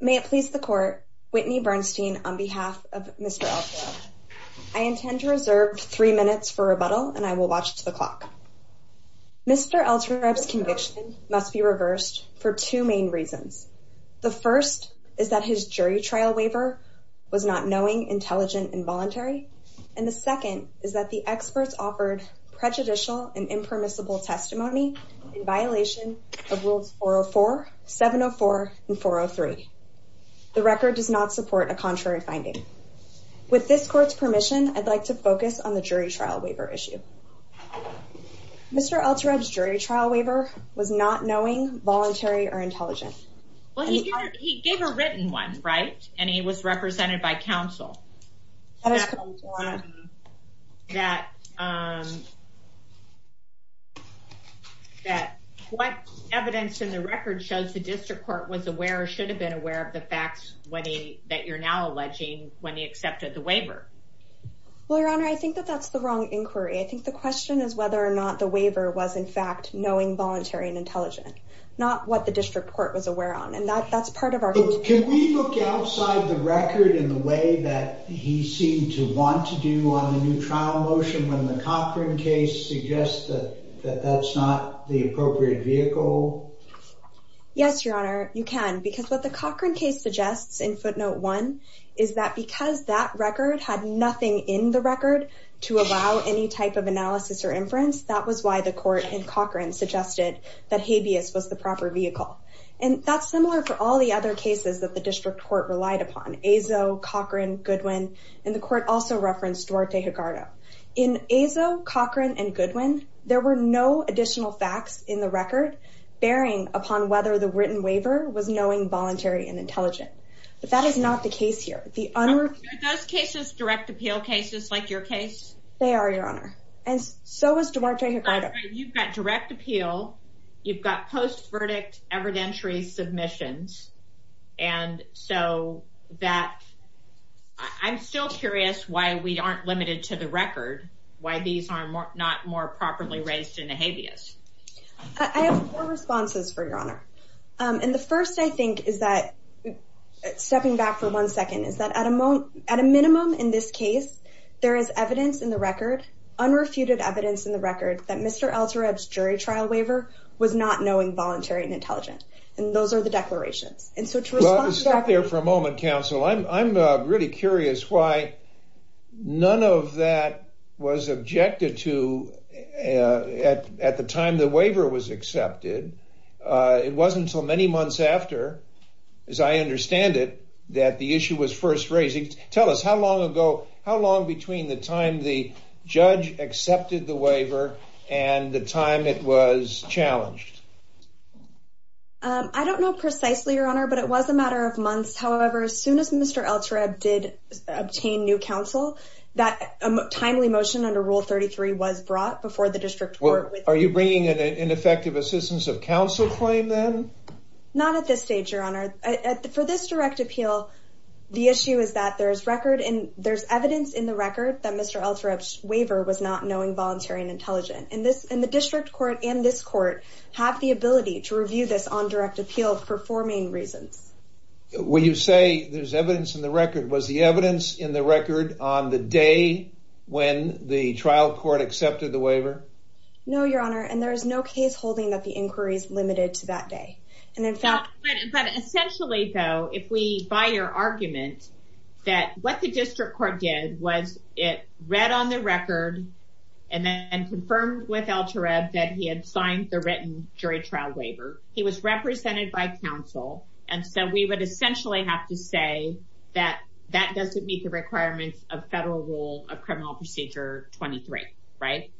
May it please the court, Whitney Bernstein on behalf of Mr. Eltareb. I intend to reserve three minutes for rebuttal and I will watch the clock. Mr. Eltareb's conviction must be reversed for two main reasons. The first is that his jury trial waiver was not knowing, intelligent, and voluntary. And the second is that the experts offered prejudicial and impermissible testimony in violation of rules 404, 704, and 403. The record does not support a contrary finding. With this court's permission, I'd like to focus on the jury trial waiver issue. Mr. Eltareb's jury trial waiver was not knowing, voluntary, or intelligent. Well, he gave a written one, right? And he was represented by counsel. That what evidence in the record shows the district court was aware or should have been aware of the facts that you're now alleging when he accepted the waiver? Well, your honor, I think that that's the wrong inquiry. I think the question is whether or not the waiver was, in fact, knowing, voluntary, and intelligent. Not what the district court was aware on. Can we look outside the record in the way that he seemed to want to do on the new trial motion when the Cochran case suggests that that's not the appropriate vehicle? Yes, your honor, you can. Because what the Cochran case suggests in footnote one is that because that record had nothing in the Cochran suggested that habeas was the proper vehicle. And that's similar for all the other cases that the district court relied upon. Azo, Cochran, Goodwin, and the court also referenced Duarte Higardo. In Azo, Cochran, and Goodwin, there were no additional facts in the record bearing upon whether the written waiver was knowing, voluntary, and intelligent. But that is not the case here. Are those cases direct appeal cases like your case? They are, your honor. And so is Duarte Higardo. You've got direct appeal. You've got post-verdict evidentiary submissions. And so that, I'm still curious why we aren't limited to the record, why these are not more properly raised in the habeas. I have four responses for your honor. And the first I think is that, stepping back for one second, is that at a minimum in this case, there is evidence in the record, unrefuted evidence in the record, that Mr. Altereb's jury trial waiver was not knowing, voluntary, and intelligent. And those are the declarations. And so to respond- Well, stop there for a moment, counsel. I'm really curious why none of that was objected to at the time the waiver was accepted. It wasn't until many months after, as I understand it, that the issue was first raised. Tell us, how long between the time the judge accepted the waiver and the time it was challenged? I don't know precisely, your honor, but it was a matter of months. However, as soon as Mr. Altereb did obtain new counsel, that timely motion under Rule 33 was brought before the district court. Are you bringing an ineffective assistance of counsel claim then? Not at this stage, your honor. For this direct appeal, the issue is that there's evidence in the record that Mr. Altereb's waiver was not knowing, voluntary, and intelligent. And the district court and this court have the ability to review this on direct appeal for four main reasons. When you say there's evidence in the record, was the evidence in the record on the day when the trial court accepted the waiver? No, your honor, and there is no case holding that the inquiry is limited to that day. But essentially, though, if we buy your argument that what the district court did was it read on the record and then confirmed with Altereb that he had signed the written jury trial waiver, he was represented by counsel. And so we would essentially have to say that that doesn't meet the requirements of federal rule of criminal procedure 23, right?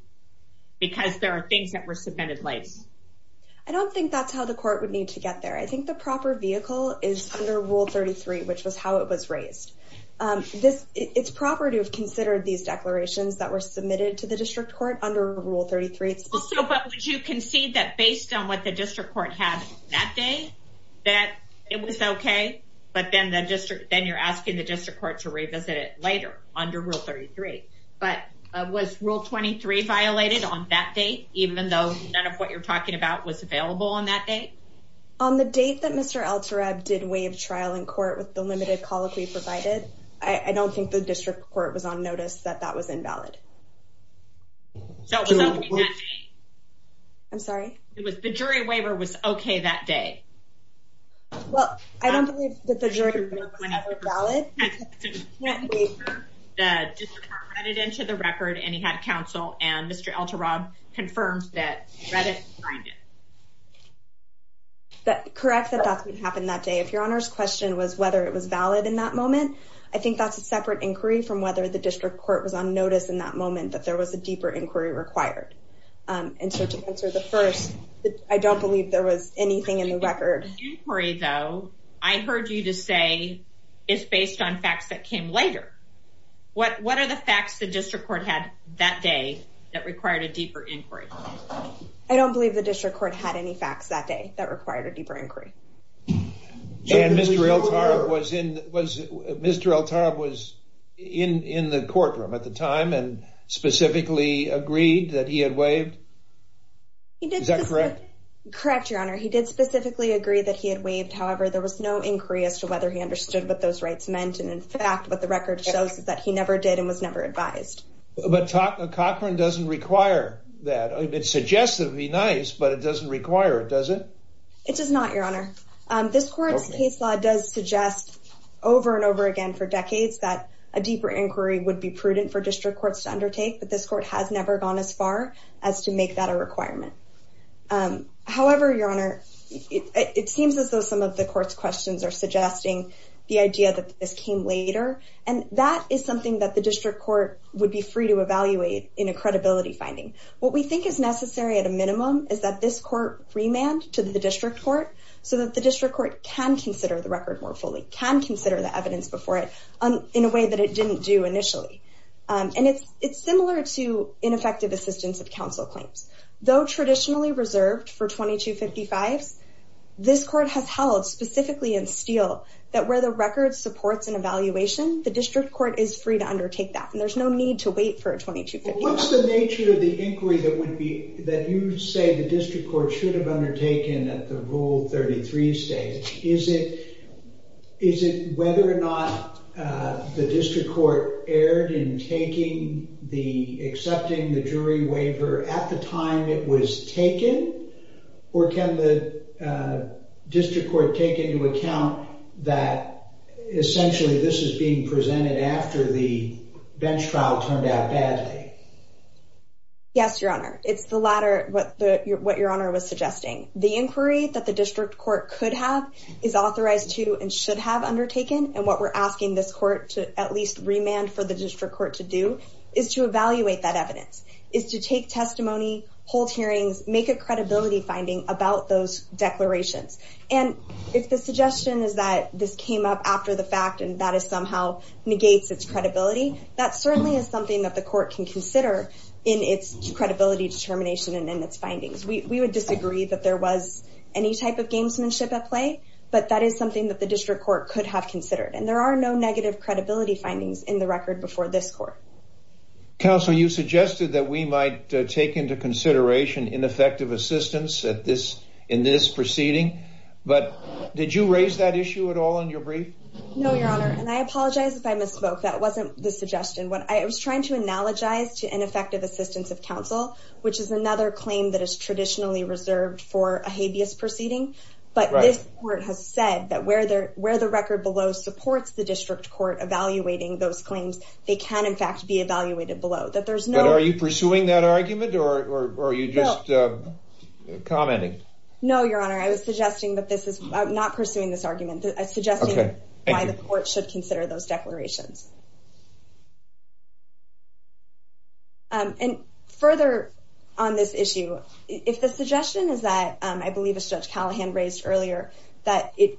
Because there are things that were submitted late. I don't think that's how the court would need to get there. I think the proper vehicle is under Rule 33, which was how it was raised. It's proper to have considered these declarations that were submitted to the district court under Rule 33. Also, but you concede that based on what the district court had that day, that it was okay, but then you're asking the district court to revisit it later under Rule 33. But was Rule 23 violated on that date, even though none of what you're talking about was available on that date? On the date that Mr. Altereb did waive trial in court with the limited colloquy provided, I don't think the district court was on notice that that was invalid. So it was okay that day? I'm sorry? It was the jury waiver was okay that day? Well, I don't believe that the jury waiver was ever valid. The district court read it into the record, and he had counsel, and Mr. Altereb confirmed that he read it and signed it. Correct that that would happen that day. If your Honor's question was whether it was valid in that moment, I think that's a separate inquiry from whether the district court was on notice in that moment that there was a deeper inquiry required. And so to answer the first, I don't believe there was anything in the record. The inquiry, though, I heard you to say is based on facts that came later. What are the facts the district court had that day that required a deeper inquiry? I don't believe the district court had any facts that day that required a deeper inquiry. And Mr. Altereb was in the courtroom at the time and specifically agreed that he had waived. Is that correct? Correct, Your Honor. He did specifically agree that he had waived. However, there was no inquiry as to whether he understood what those rights meant. And in fact, what the record shows is that he never did and was never advised. But Cochran doesn't require that. It suggests it would be nice, but it doesn't require it, does it? It does not, Your Honor. This court's case law does suggest over and over again for decades that a deeper inquiry would be prudent for district courts to undertake, but this court has never gone as far as to make that a requirement. However, Your Honor, it seems as though some of the court's questions are suggesting the idea that this came later, and that is something that the district court would be free to evaluate in a credibility finding. What we think is necessary at a minimum is that this court remand to the district court so that the district court can consider the record more fully, can consider the evidence before it in a way that it didn't do assistance of counsel claims. Though traditionally reserved for 2255s, this court has held specifically in steel that where the record supports an evaluation, the district court is free to undertake that, and there's no need to wait for a 2255. What's the nature of the inquiry that you say the district court should have undertaken at the Rule 33 stage? Is it whether or not the district court erred in accepting the jury waiver at the time it was taken, or can the district court take into account that essentially this is being presented after the bench trial turned out badly? Yes, Your Honor. It's what Your Honor was suggesting. The inquiry that the district court could have is authorized to and should have undertaken, and what we're asking this court to at least remand for the district court to do is to evaluate that evidence, is to take testimony, hold hearings, make a credibility finding about those declarations. And if the suggestion is that this came up after the fact and that somehow negates its credibility, that certainly is something that the court can consider in its credibility determination and its findings. We would disagree that there was any type of gamesmanship at play, but that is something that the district court could have considered, and there are no negative credibility findings in the record before this court. Counsel, you suggested that we might take into consideration ineffective assistance in this proceeding, but did you raise that issue at all in your brief? No, Your Honor, and I apologize if I misspoke. That wasn't the suggestion. I was suggesting that this is another claim that is traditionally reserved for a habeas proceeding, but this court has said that where the record below supports the district court evaluating those claims, they can in fact be evaluated below. But are you pursuing that argument, or are you just commenting? No, Your Honor, I was suggesting that this is not pursuing this argument. I was just commenting on this issue. If the suggestion is that, I believe as Judge Callahan raised earlier, that we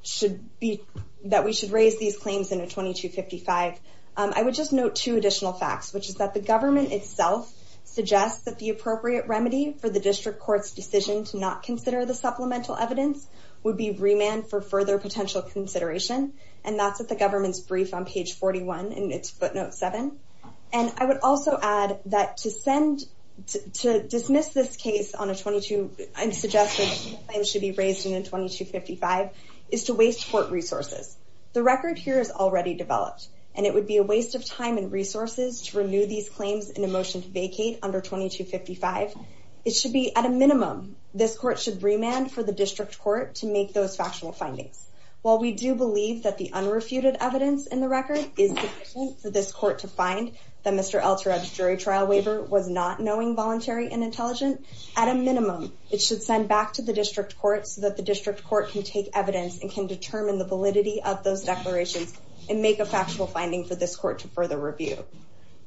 should raise these claims in a 2255, I would just note two additional facts, which is that the government itself suggests that the appropriate remedy for the district court's decision to not consider the supplemental evidence would be remand for further potential consideration, and that's at the government's brief on page 41 in its footnote 7. And I would also add that to dismiss this case on a 22, I'm suggesting claims should be raised in a 2255, is to waste court resources. The record here is already developed, and it would be a waste of time and resources to renew these claims in a motion to vacate under 2255. It should be, at a minimum, this court should remand for the district court to make those factual findings. While we do believe that the unrefuted evidence in the record is sufficient for this court to find that Mr. Alterab's jury trial waiver was not knowing voluntary and intelligent, at a minimum, it should send back to the district court so that the district court can take evidence and can determine the validity of those declarations and make a factual finding for this court to further review.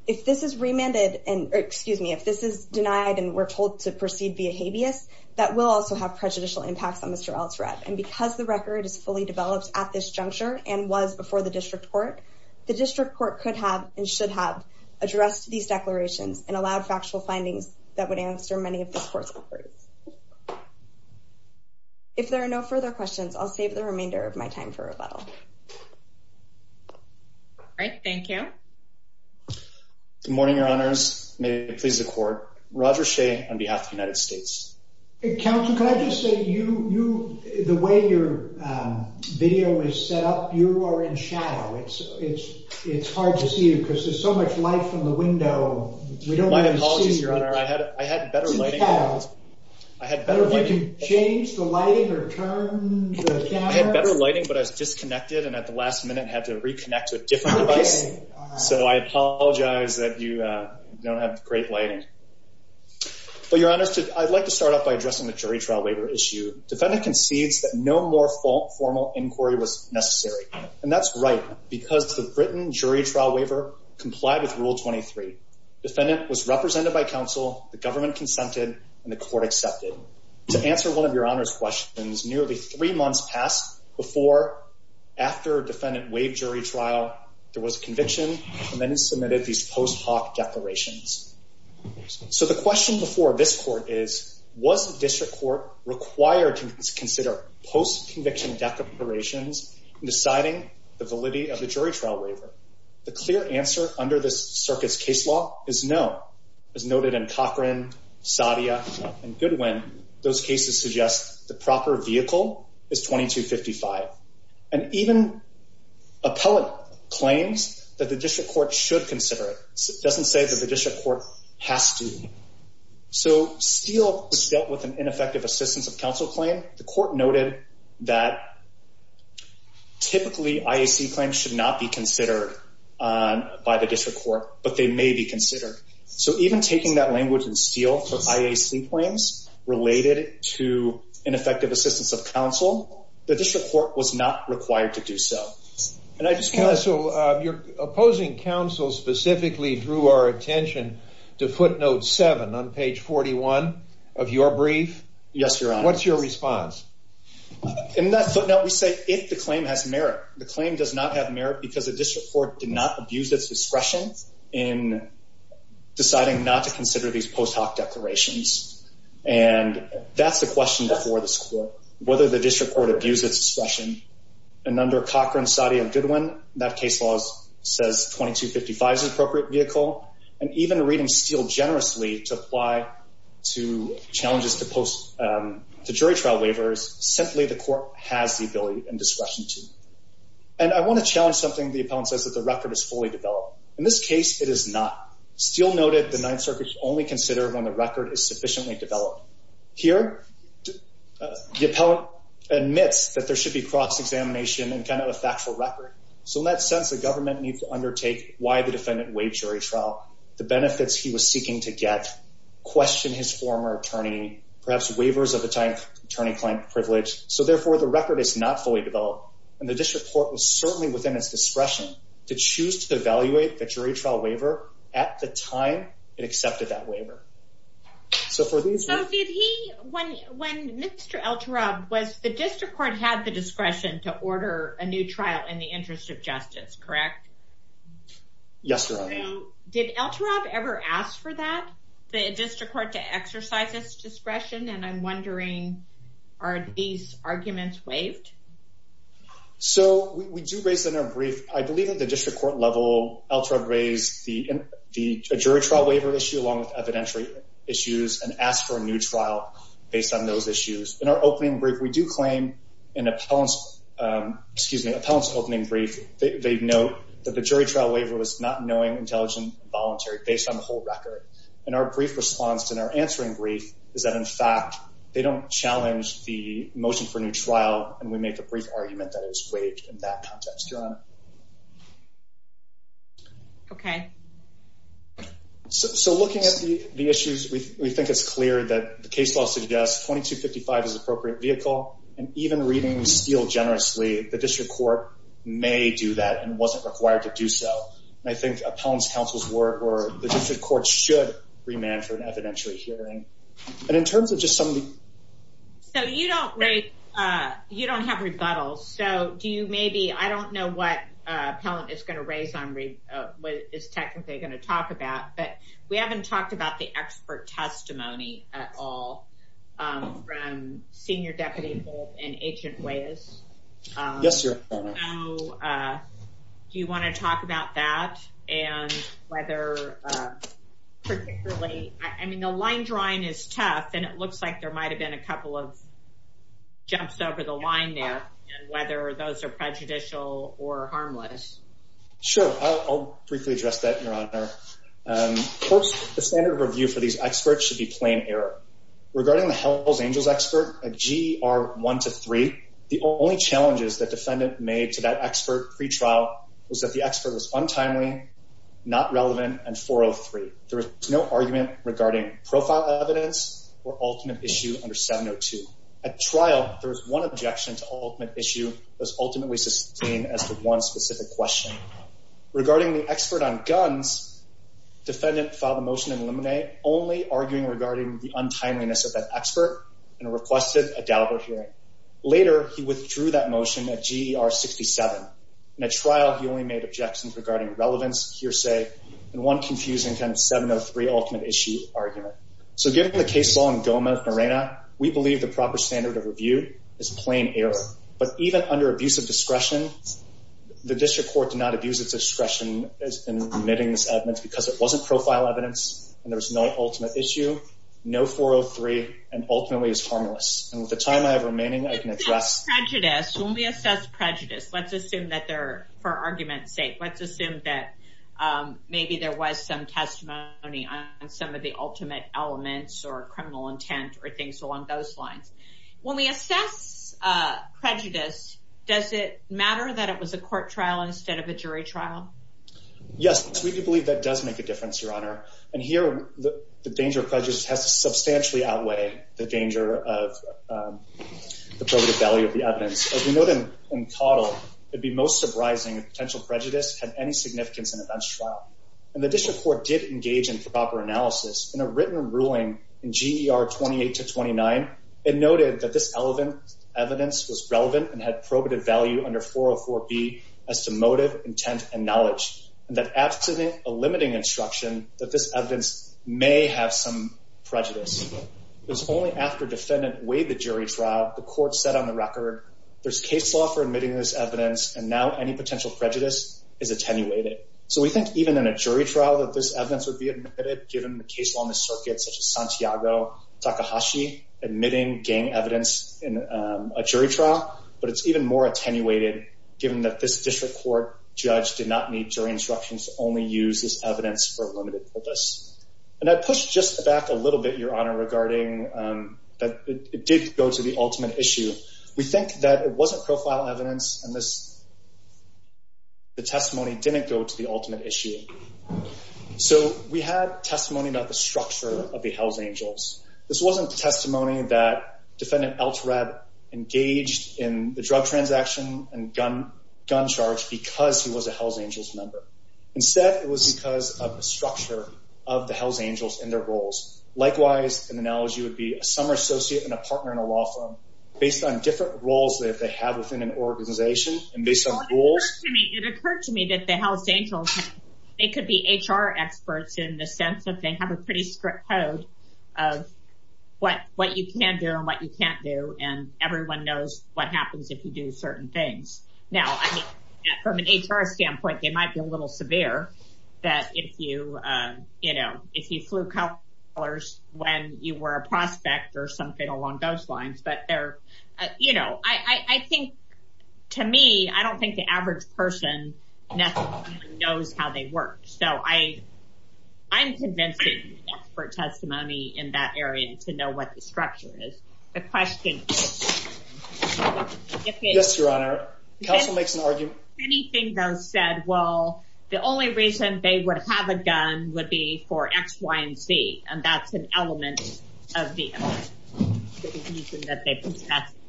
If this is remanded, and excuse me, if this is denied and we're told to proceed via habeas, that will also have prejudicial impacts on Mr. Alterab. And because the record is fully developed at this juncture and was before the district court, the district court could have and should have addressed these declarations and allowed factual findings that would answer many of this court's inquiries. If there are no further questions, I'll save the remainder of my time for rebuttal. All right, thank you. Good morning, your honors. May it please the court. Roger Shea on behalf of the United States. Counsel, can I just say, the way your video is set up, you are in shadow. It's hard to see you because there's so much light from the window. My apologies, your honor. I had better lighting. I had better lighting, but I was disconnected and at the last minute had to reconnect to a different device. So I apologize that you don't have great lighting. But your honors, I'd like to start off by addressing the jury trial waiver issue. Defendant concedes that no more formal inquiry was necessary. And that's right, because the Britain jury trial waiver complied with Rule 23. Defendant was represented by counsel, the government consented, and the court accepted. To answer one of your honors' questions, nearly three months passed before, after defendant waived jury trial, there was conviction, and then it submitted these post hoc declarations. So the question before this court is, was the district court required to consider post conviction declarations in deciding the validity of the jury trial waiver? The clear answer under this circuit's case law is no. As noted in Cochran, Sadia, and Goodwin, those cases suggest the proper vehicle is 2255. And even appellate claims that the district court should consider it doesn't say that the district court has to. So Steele was dealt with an ineffective assistance of counsel claim. The court noted that typically IAC claims should not be considered by the district court, but they may be considered. So even taking that language in Steele for IAC claims related to ineffective assistance of counsel, the district court was not required to do so. And I just want to- Counsel, you're opposing counsel specifically through our attention to footnote seven on page 41 of your brief. Yes, Your Honor. What's your response? In that footnote, we say if the claim has merit. The claim does not have merit because the district court did not abuse its discretion in deciding not to consider these post hoc declarations. And that's the question before this court, whether the district court abused its discretion. And under Cochran, Sadia, and Goodwin, that case law says 2255 is an appropriate vehicle. And even reading Steele generously to apply to challenges to jury trial waivers, simply the court has the ability and discretion to. And I want to challenge something the appellant says that the record is fully developed. In this case, it is not. Steele noted the Ninth Circuit should only consider when the record is sufficiently developed. Here, the appellant admits that there should be cross-examination and kind of a factual record. So in that sense, the government needs to undertake why the defendant waived jury trial, the benefits he was seeking to get, question his former attorney, perhaps waivers of a time attorney-client privilege. So therefore, the record is not fully developed. And the district court was certainly within its discretion to choose to evaluate the jury trial waiver at the time it accepted that waiver. So for these... So did he, when Mr. El-Turab, was the district court had the discretion to order a new trial in the interest of justice, correct? Yes, Your Honor. So did El-Turab ever ask for that, the district court, to exercise this discretion? And I'm wondering, are these arguments waived? So we do raise it in our brief. I believe at the district court level, El-Turab raised the jury trial waiver issue along with evidentiary issues and asked for a new trial based on those issues. In our opening brief, we do claim an appellant's, excuse me, appellant's opening brief, they note that the jury trial waiver was not knowing, intelligent, and voluntary based on the whole record. And our brief response in our answering brief is that in fact, they don't challenge the motion for a new trial and we make a brief argument that it was waived in that context, Your Honor. Okay. So looking at the issues, we think it's clear that the case law suggests 2255 is an appropriate vehicle and even reading Steele generously, the district court may do that and wasn't required to do so. And I think appellant's counsel's work or the district court should remand for an evidentiary hearing. And in terms of just some of the- So you don't have rebuttals. So do you maybe, I don't know what appellant is going to raise on what is technically going to talk about, but we haven't talked about the expert testimony at all from senior deputy and agent Weyes. Yes, Your Honor. So do you want to talk about that and whether particularly, I mean, the line drawing is tough and it looks like there might've been a couple of jumps over the line there and whether those are prejudicial or harmless. Sure. I'll briefly address that, Your Honor. Of course, the standard of review for these experts should be plain error. Regarding the Hells Angels expert, a GR 1 to 3, the only challenges that defendant made to that expert pretrial was that the expert was untimely, not relevant and 403. There was no argument regarding profile evidence or ultimate issue under 702. At trial, there was one objection to ultimate issue was ultimately sustained as one specific question. Regarding the expert on guns, defendant filed a motion to eliminate only arguing regarding the untimeliness of that expert and requested a doubtful hearing. Later, he withdrew that motion at GER 67. At trial, he only made objections regarding relevance, hearsay, and one confusing kind of 703 ultimate issue argument. So given the case law in Gomez-Morena, we believe the proper standard of review is plain error. But even under abuse of discretion, the district court did not abuse its discretion in remitting this evidence because it wasn't profile evidence and there was no ultimate issue, no 403, and ultimately is harmless. And with the time I have remaining, I can address- When we assess prejudice, let's assume that they're, for argument's sake, let's assume that maybe there was some testimony on some of the ultimate elements or criminal intent or things along those lines. When we assess prejudice, does it matter that it was a court trial instead of a jury trial? Yes, we do believe that does make a difference, Your Honor. And here, the danger of prejudice has to substantially outweigh the danger of the probative value of the evidence. As we know then in Caudill, it'd be most surprising if potential prejudice had any significance in a bench trial. And the district court did engage in proper analysis in a written ruling in GER 28 to 29. It noted that this evidence was relevant and had probative value under 404B as to motive, intent, and knowledge. And that after a limiting instruction, that this evidence may have some prejudice. It was only after defendant weighed the jury trial, the court said on the record, there's case law for admitting this evidence and now any potential prejudice is attenuated. So we think even in a jury trial that this evidence would be admitted given the case law in the circuit such as Santiago Takahashi admitting gang evidence in a jury trial, but it's even more attenuated given that this district court judge did not need jury instructions to only use this evidence for a limited purpose. And I'd push just back a little bit, Your Honor, regarding that it did go to the ultimate issue. We think that it wasn't profile evidence and that the testimony didn't go to the ultimate issue. So we had testimony about the structure of the Hells Angels. This wasn't testimony that defendant Eltred engaged in the drug transaction and gun charge because he was a Hells Angels member. Instead, it was because of the structure of the Hells Angels and their roles. Likewise, an analogy would be a summer associate and a some rules. It occurred to me that the Hells Angels, they could be HR experts in the sense that they have a pretty strict code of what you can do and what you can't do. And everyone knows what happens if you do certain things. Now, from an HR standpoint, they might be a little severe that if you, you know, if you flew colors when you were a prospect or something along those lines, but they're, you know, I think to me, I don't think the average person knows how they work. So I, I'm convinced for testimony in that area to know what the structure is. The question. Yes, Your Honor, counsel makes an argument. Anything that was said, well, the only reason they would have a gun would be for X, Y, and Z. And that's an element of the the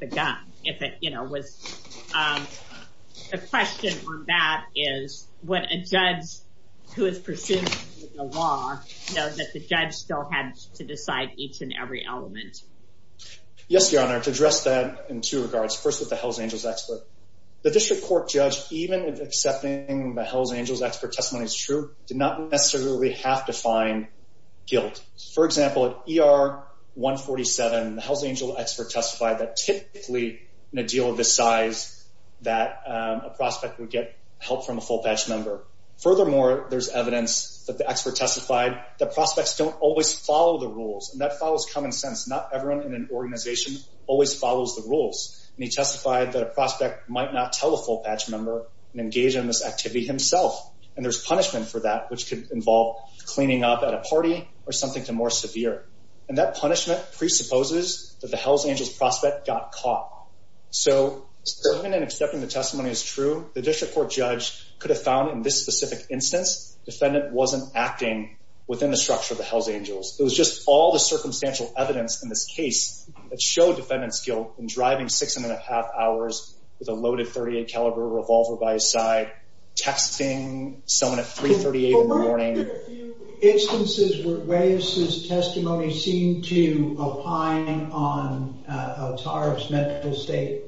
gun. If it, you know, was a question on that is what a judge who is pursuing law know that the judge still had to decide each and every element. Yes, Your Honor. To address that in two regards, first with the Hells Angels expert, the district court judge, even if accepting the Hells Angels expert testimony is true, did not necessarily have to find guilt. For example, at ER 147, the Hells Angels expert testified that typically in a deal of this size that a prospect would get help from a full patch member. Furthermore, there's evidence that the expert testified that prospects don't always follow the rules and that follows common sense. Not everyone in an organization always follows the rules. And he testified that a prospect might not tell a full patch member and engage in this activity himself. And there's punishment for that, which could involve cleaning up at a party or something to more severe. And that punishment presupposes that the Hells Angels prospect got caught. So even in accepting the testimony is true, the district court judge could have found in this specific instance, defendant wasn't acting within the structure of the Hells Angels. It was just all the circumstantial evidence in this case that showed defendant's guilt in driving six and a half hours with a loaded .38 caliber revolver by his side, texting someone at 3.38 in the morning. But weren't there a few instances where Waves' testimony seemed to opine on a tariff's medical state?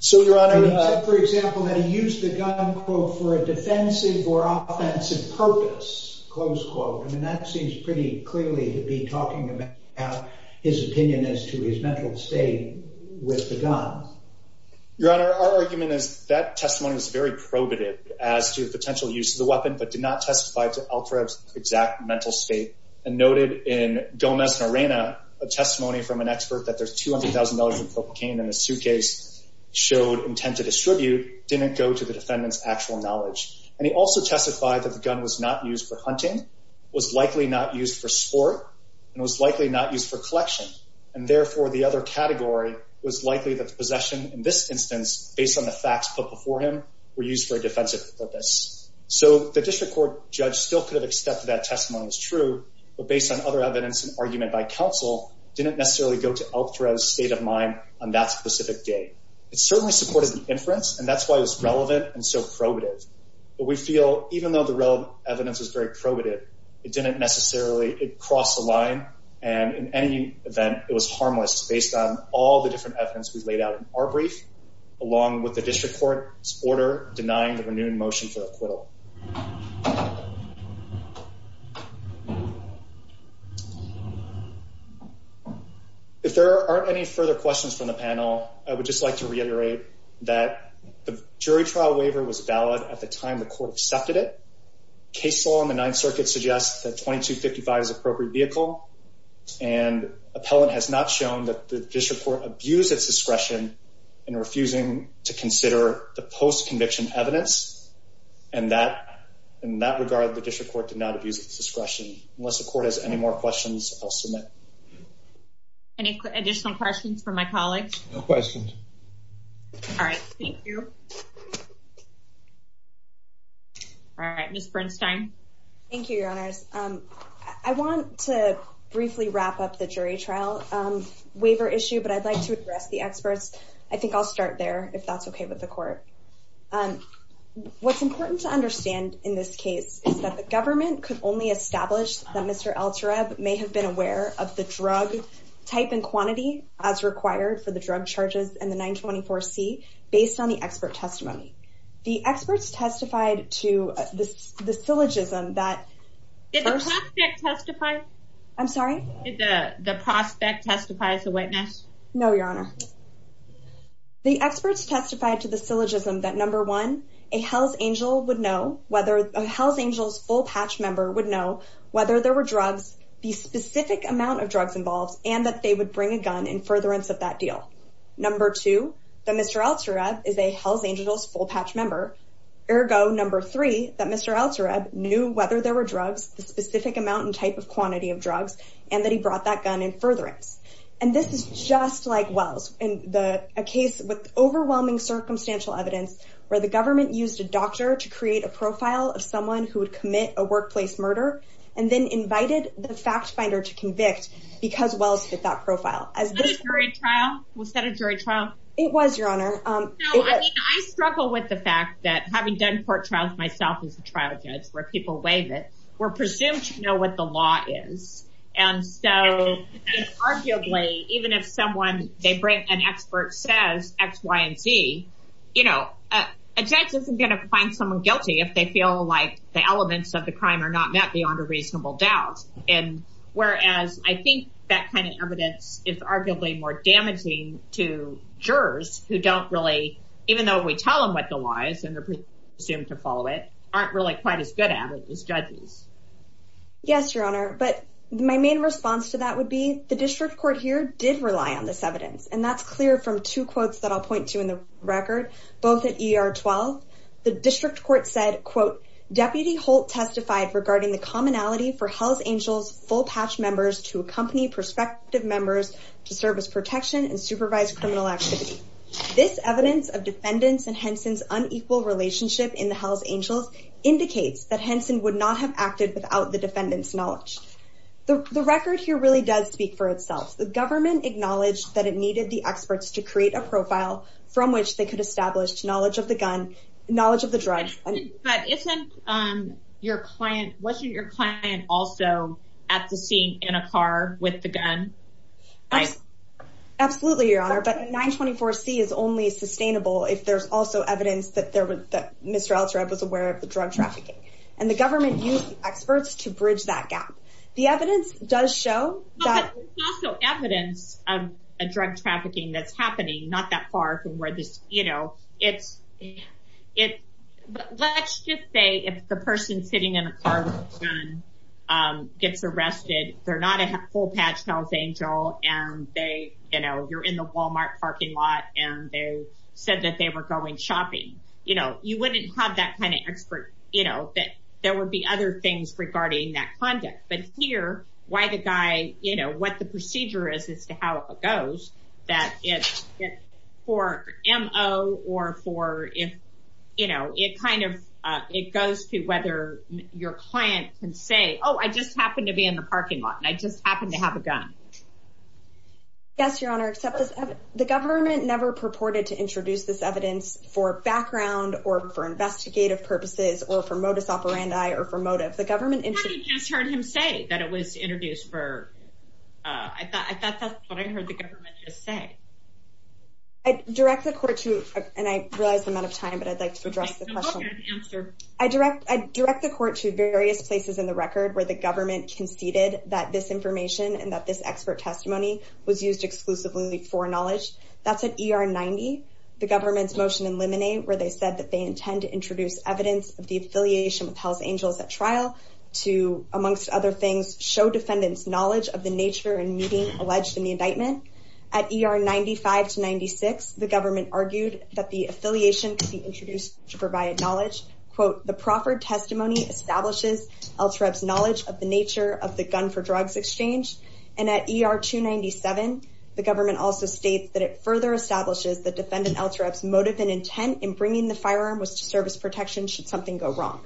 So, Your Honor, he said, for example, that he used the gun quote, for a defensive or offensive purpose, close quote. I mean, that seems pretty clearly to be talking about his opinion as to his mental state with the gun. Your Honor, our argument is that testimony was very probative as to the potential use of the weapon, but did not testify to Altarev's exact mental state and noted in Gomez-Norena, a testimony from an expert that there's $200,000 in cocaine in a suitcase, showed intent to distribute, didn't go to the defendant's actual knowledge. And he also testified that the gun was not used for hunting, was likely not used for sport, and was likely not used for collection. And therefore, the other category was likely that the possession, in this instance, based on the facts put before him, were used for a defensive purpose. So the district court judge still could have accepted that testimony was true, but based on other evidence and argument by counsel, didn't necessarily go to Altarev's state of mind on that specific day. It certainly supported the inference, and that's why it was relevant and so probative. We feel, even though the relevant evidence is very probative, it didn't necessarily cross the line, and in any event, it was harmless based on all the different evidence we laid out in our brief, along with the district court's order denying the renewed motion for acquittal. If there aren't any further questions from the panel, I would just like to reiterate that the jury trial waiver was valid at the time the court accepted it. Case law in the Ninth Circuit suggests that 2255 is an appropriate vehicle, and appellant has not shown that the district court abused its discretion in refusing to consider the post-conviction evidence. And in that regard, the district court did not abuse its discretion. Unless the court has any more questions, I'll submit. Any additional questions from my colleagues? No questions. All right, thank you. All right, Ms. Bernstein. Thank you, Your Honors. I want to briefly wrap up the jury trial waiver issue, but I'd like to address the experts. I think I'll start there, if that's okay with the court. What's important to understand in this case is that the government could only establish that Mr. Altarev may have been aware of the drug type and quantity as based on the expert testimony. The experts testified to the syllogism that... Did the prospect testify? I'm sorry? Did the prospect testify as a witness? No, Your Honor. The experts testified to the syllogism that, number one, a Hells Angel's full patch member would know whether there were drugs, the specific amount of drugs involved, and that Mr. Altarev is a Hells Angel's full patch member. Ergo, number three, that Mr. Altarev knew whether there were drugs, the specific amount and type of quantity of drugs, and that he brought that gun in furtherance. And this is just like Wells in a case with overwhelming circumstantial evidence where the government used a doctor to create a profile of someone who would commit a workplace murder and then invited the fact finder to convict because Wells fit that profile. Was that a jury trial? It was, Your Honor. I struggle with the fact that having done court trials myself as a trial judge where people waive it, we're presumed to know what the law is. And so arguably, even if someone, an expert says X, Y, and Z, a judge isn't going to find someone guilty if they feel like the elements of the crime are not met beyond a reasonable doubt. And whereas I think that kind of evidence is arguably more damaging to jurors who don't really, even though we tell them what the law is and they're presumed to follow it, aren't really quite as good at it as judges. Yes, Your Honor. But my main response to that would be the district court here did rely on this evidence. And that's clear from two quotes that I'll point to in the record, both at ER-12. The district court said, quote, Deputy Holt testified regarding the commonality for Hells Angels full-patch members to accompany prospective members to service protection and supervise criminal activity. This evidence of defendants and Henson's unequal relationship in the Hells Angels indicates that Henson would not have acted without the defendant's knowledge. The record here really does speak for itself. The government acknowledged that it needed the experts to create a profile from which they could establish knowledge of the gun, knowledge of the drugs. But isn't your client, wasn't your client also at the scene in a car with the gun? Absolutely, Your Honor. But 924-C is only sustainable if there's also evidence that there was, that Mr. Altereb was aware of the drug trafficking. And the government used experts to bridge that gap. The evidence does show that. But there's also evidence of a drug trafficking that's happening not that far from where this, you know, it's, let's just say if the person sitting in a car with a gun gets arrested, they're not a full-patch Hells Angel, and they, you know, you're in the Walmart parking lot, and they said that they were going shopping, you know, you wouldn't have that kind of expert, you know, that there would be other things regarding that conduct. But here, why the guy, you know, what the procedure is as to how it goes, that it's for MO, or for if, you know, it kind of, it goes to whether your client can say, oh, I just happened to be in the parking lot, and I just happened to have a gun. Yes, Your Honor, except the government never purported to introduce this evidence for background, or for investigative purposes, or for modus operandi, or for motive. The government just heard him say that it was introduced for, I thought that's what I heard the government just say. I direct the court to, and I realize I'm out of time, but I'd like to address the question. I direct the court to various places in the record where the government conceded that this information, and that this expert testimony was used exclusively for knowledge. That's an ER-90, the government's motion in limine, where they said that they intend to amongst other things, show defendants knowledge of the nature and meaning alleged in the indictment. At ER-95 to 96, the government argued that the affiliation could be introduced to provide knowledge. Quote, the proffered testimony establishes LTREV's knowledge of the nature of the gun for drugs exchange. And at ER-297, the government also states that it further establishes the defendant LTREV's motive and intent in bringing the firearm was to service protection should something go wrong.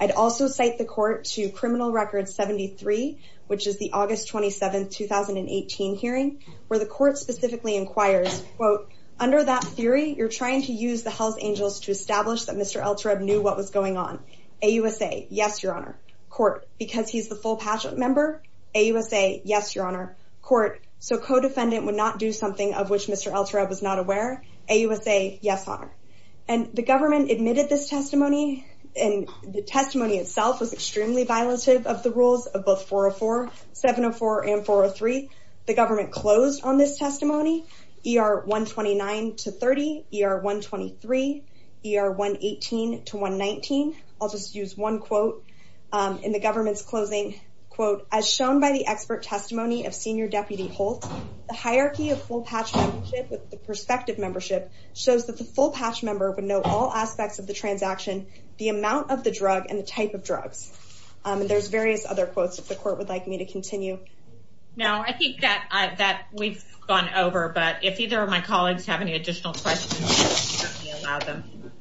I'd also cite the court to criminal record 73, which is the August 27th, 2018 hearing, where the court specifically inquires, quote, under that theory, you're trying to use the Hells Angels to establish that Mr. LTREV knew what was going on. AUSA, yes, your honor. Court, because he's the full pageant member? AUSA, yes, your honor. Court, so co-defendant would not do something of which Mr. LTREV was not aware? AUSA, yes, honor. And the government admitted this testimony, and the testimony itself was extremely violative of the rules of both 404, 704, and 403. The government closed on this testimony. ER-129 to 30, ER-123, ER-118 to 119. I'll just use one quote in the government's closing. Quote, as shown by the expert testimony of Senior Deputy Holt, the hierarchy of full patch membership with the prospective membership shows that the full patch member would know all aspects of the transaction, the amount of the drug, and the type of drugs. And there's various other quotes, if the court would like me to continue. No, I think that we've gone over, but if either of my colleagues have any additional questions, we'll allow them.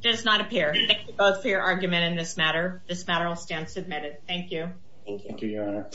Does not appear. Thank you both for your argument in this matter. This matter will stand submitted. Thank you. Thank you, your honor.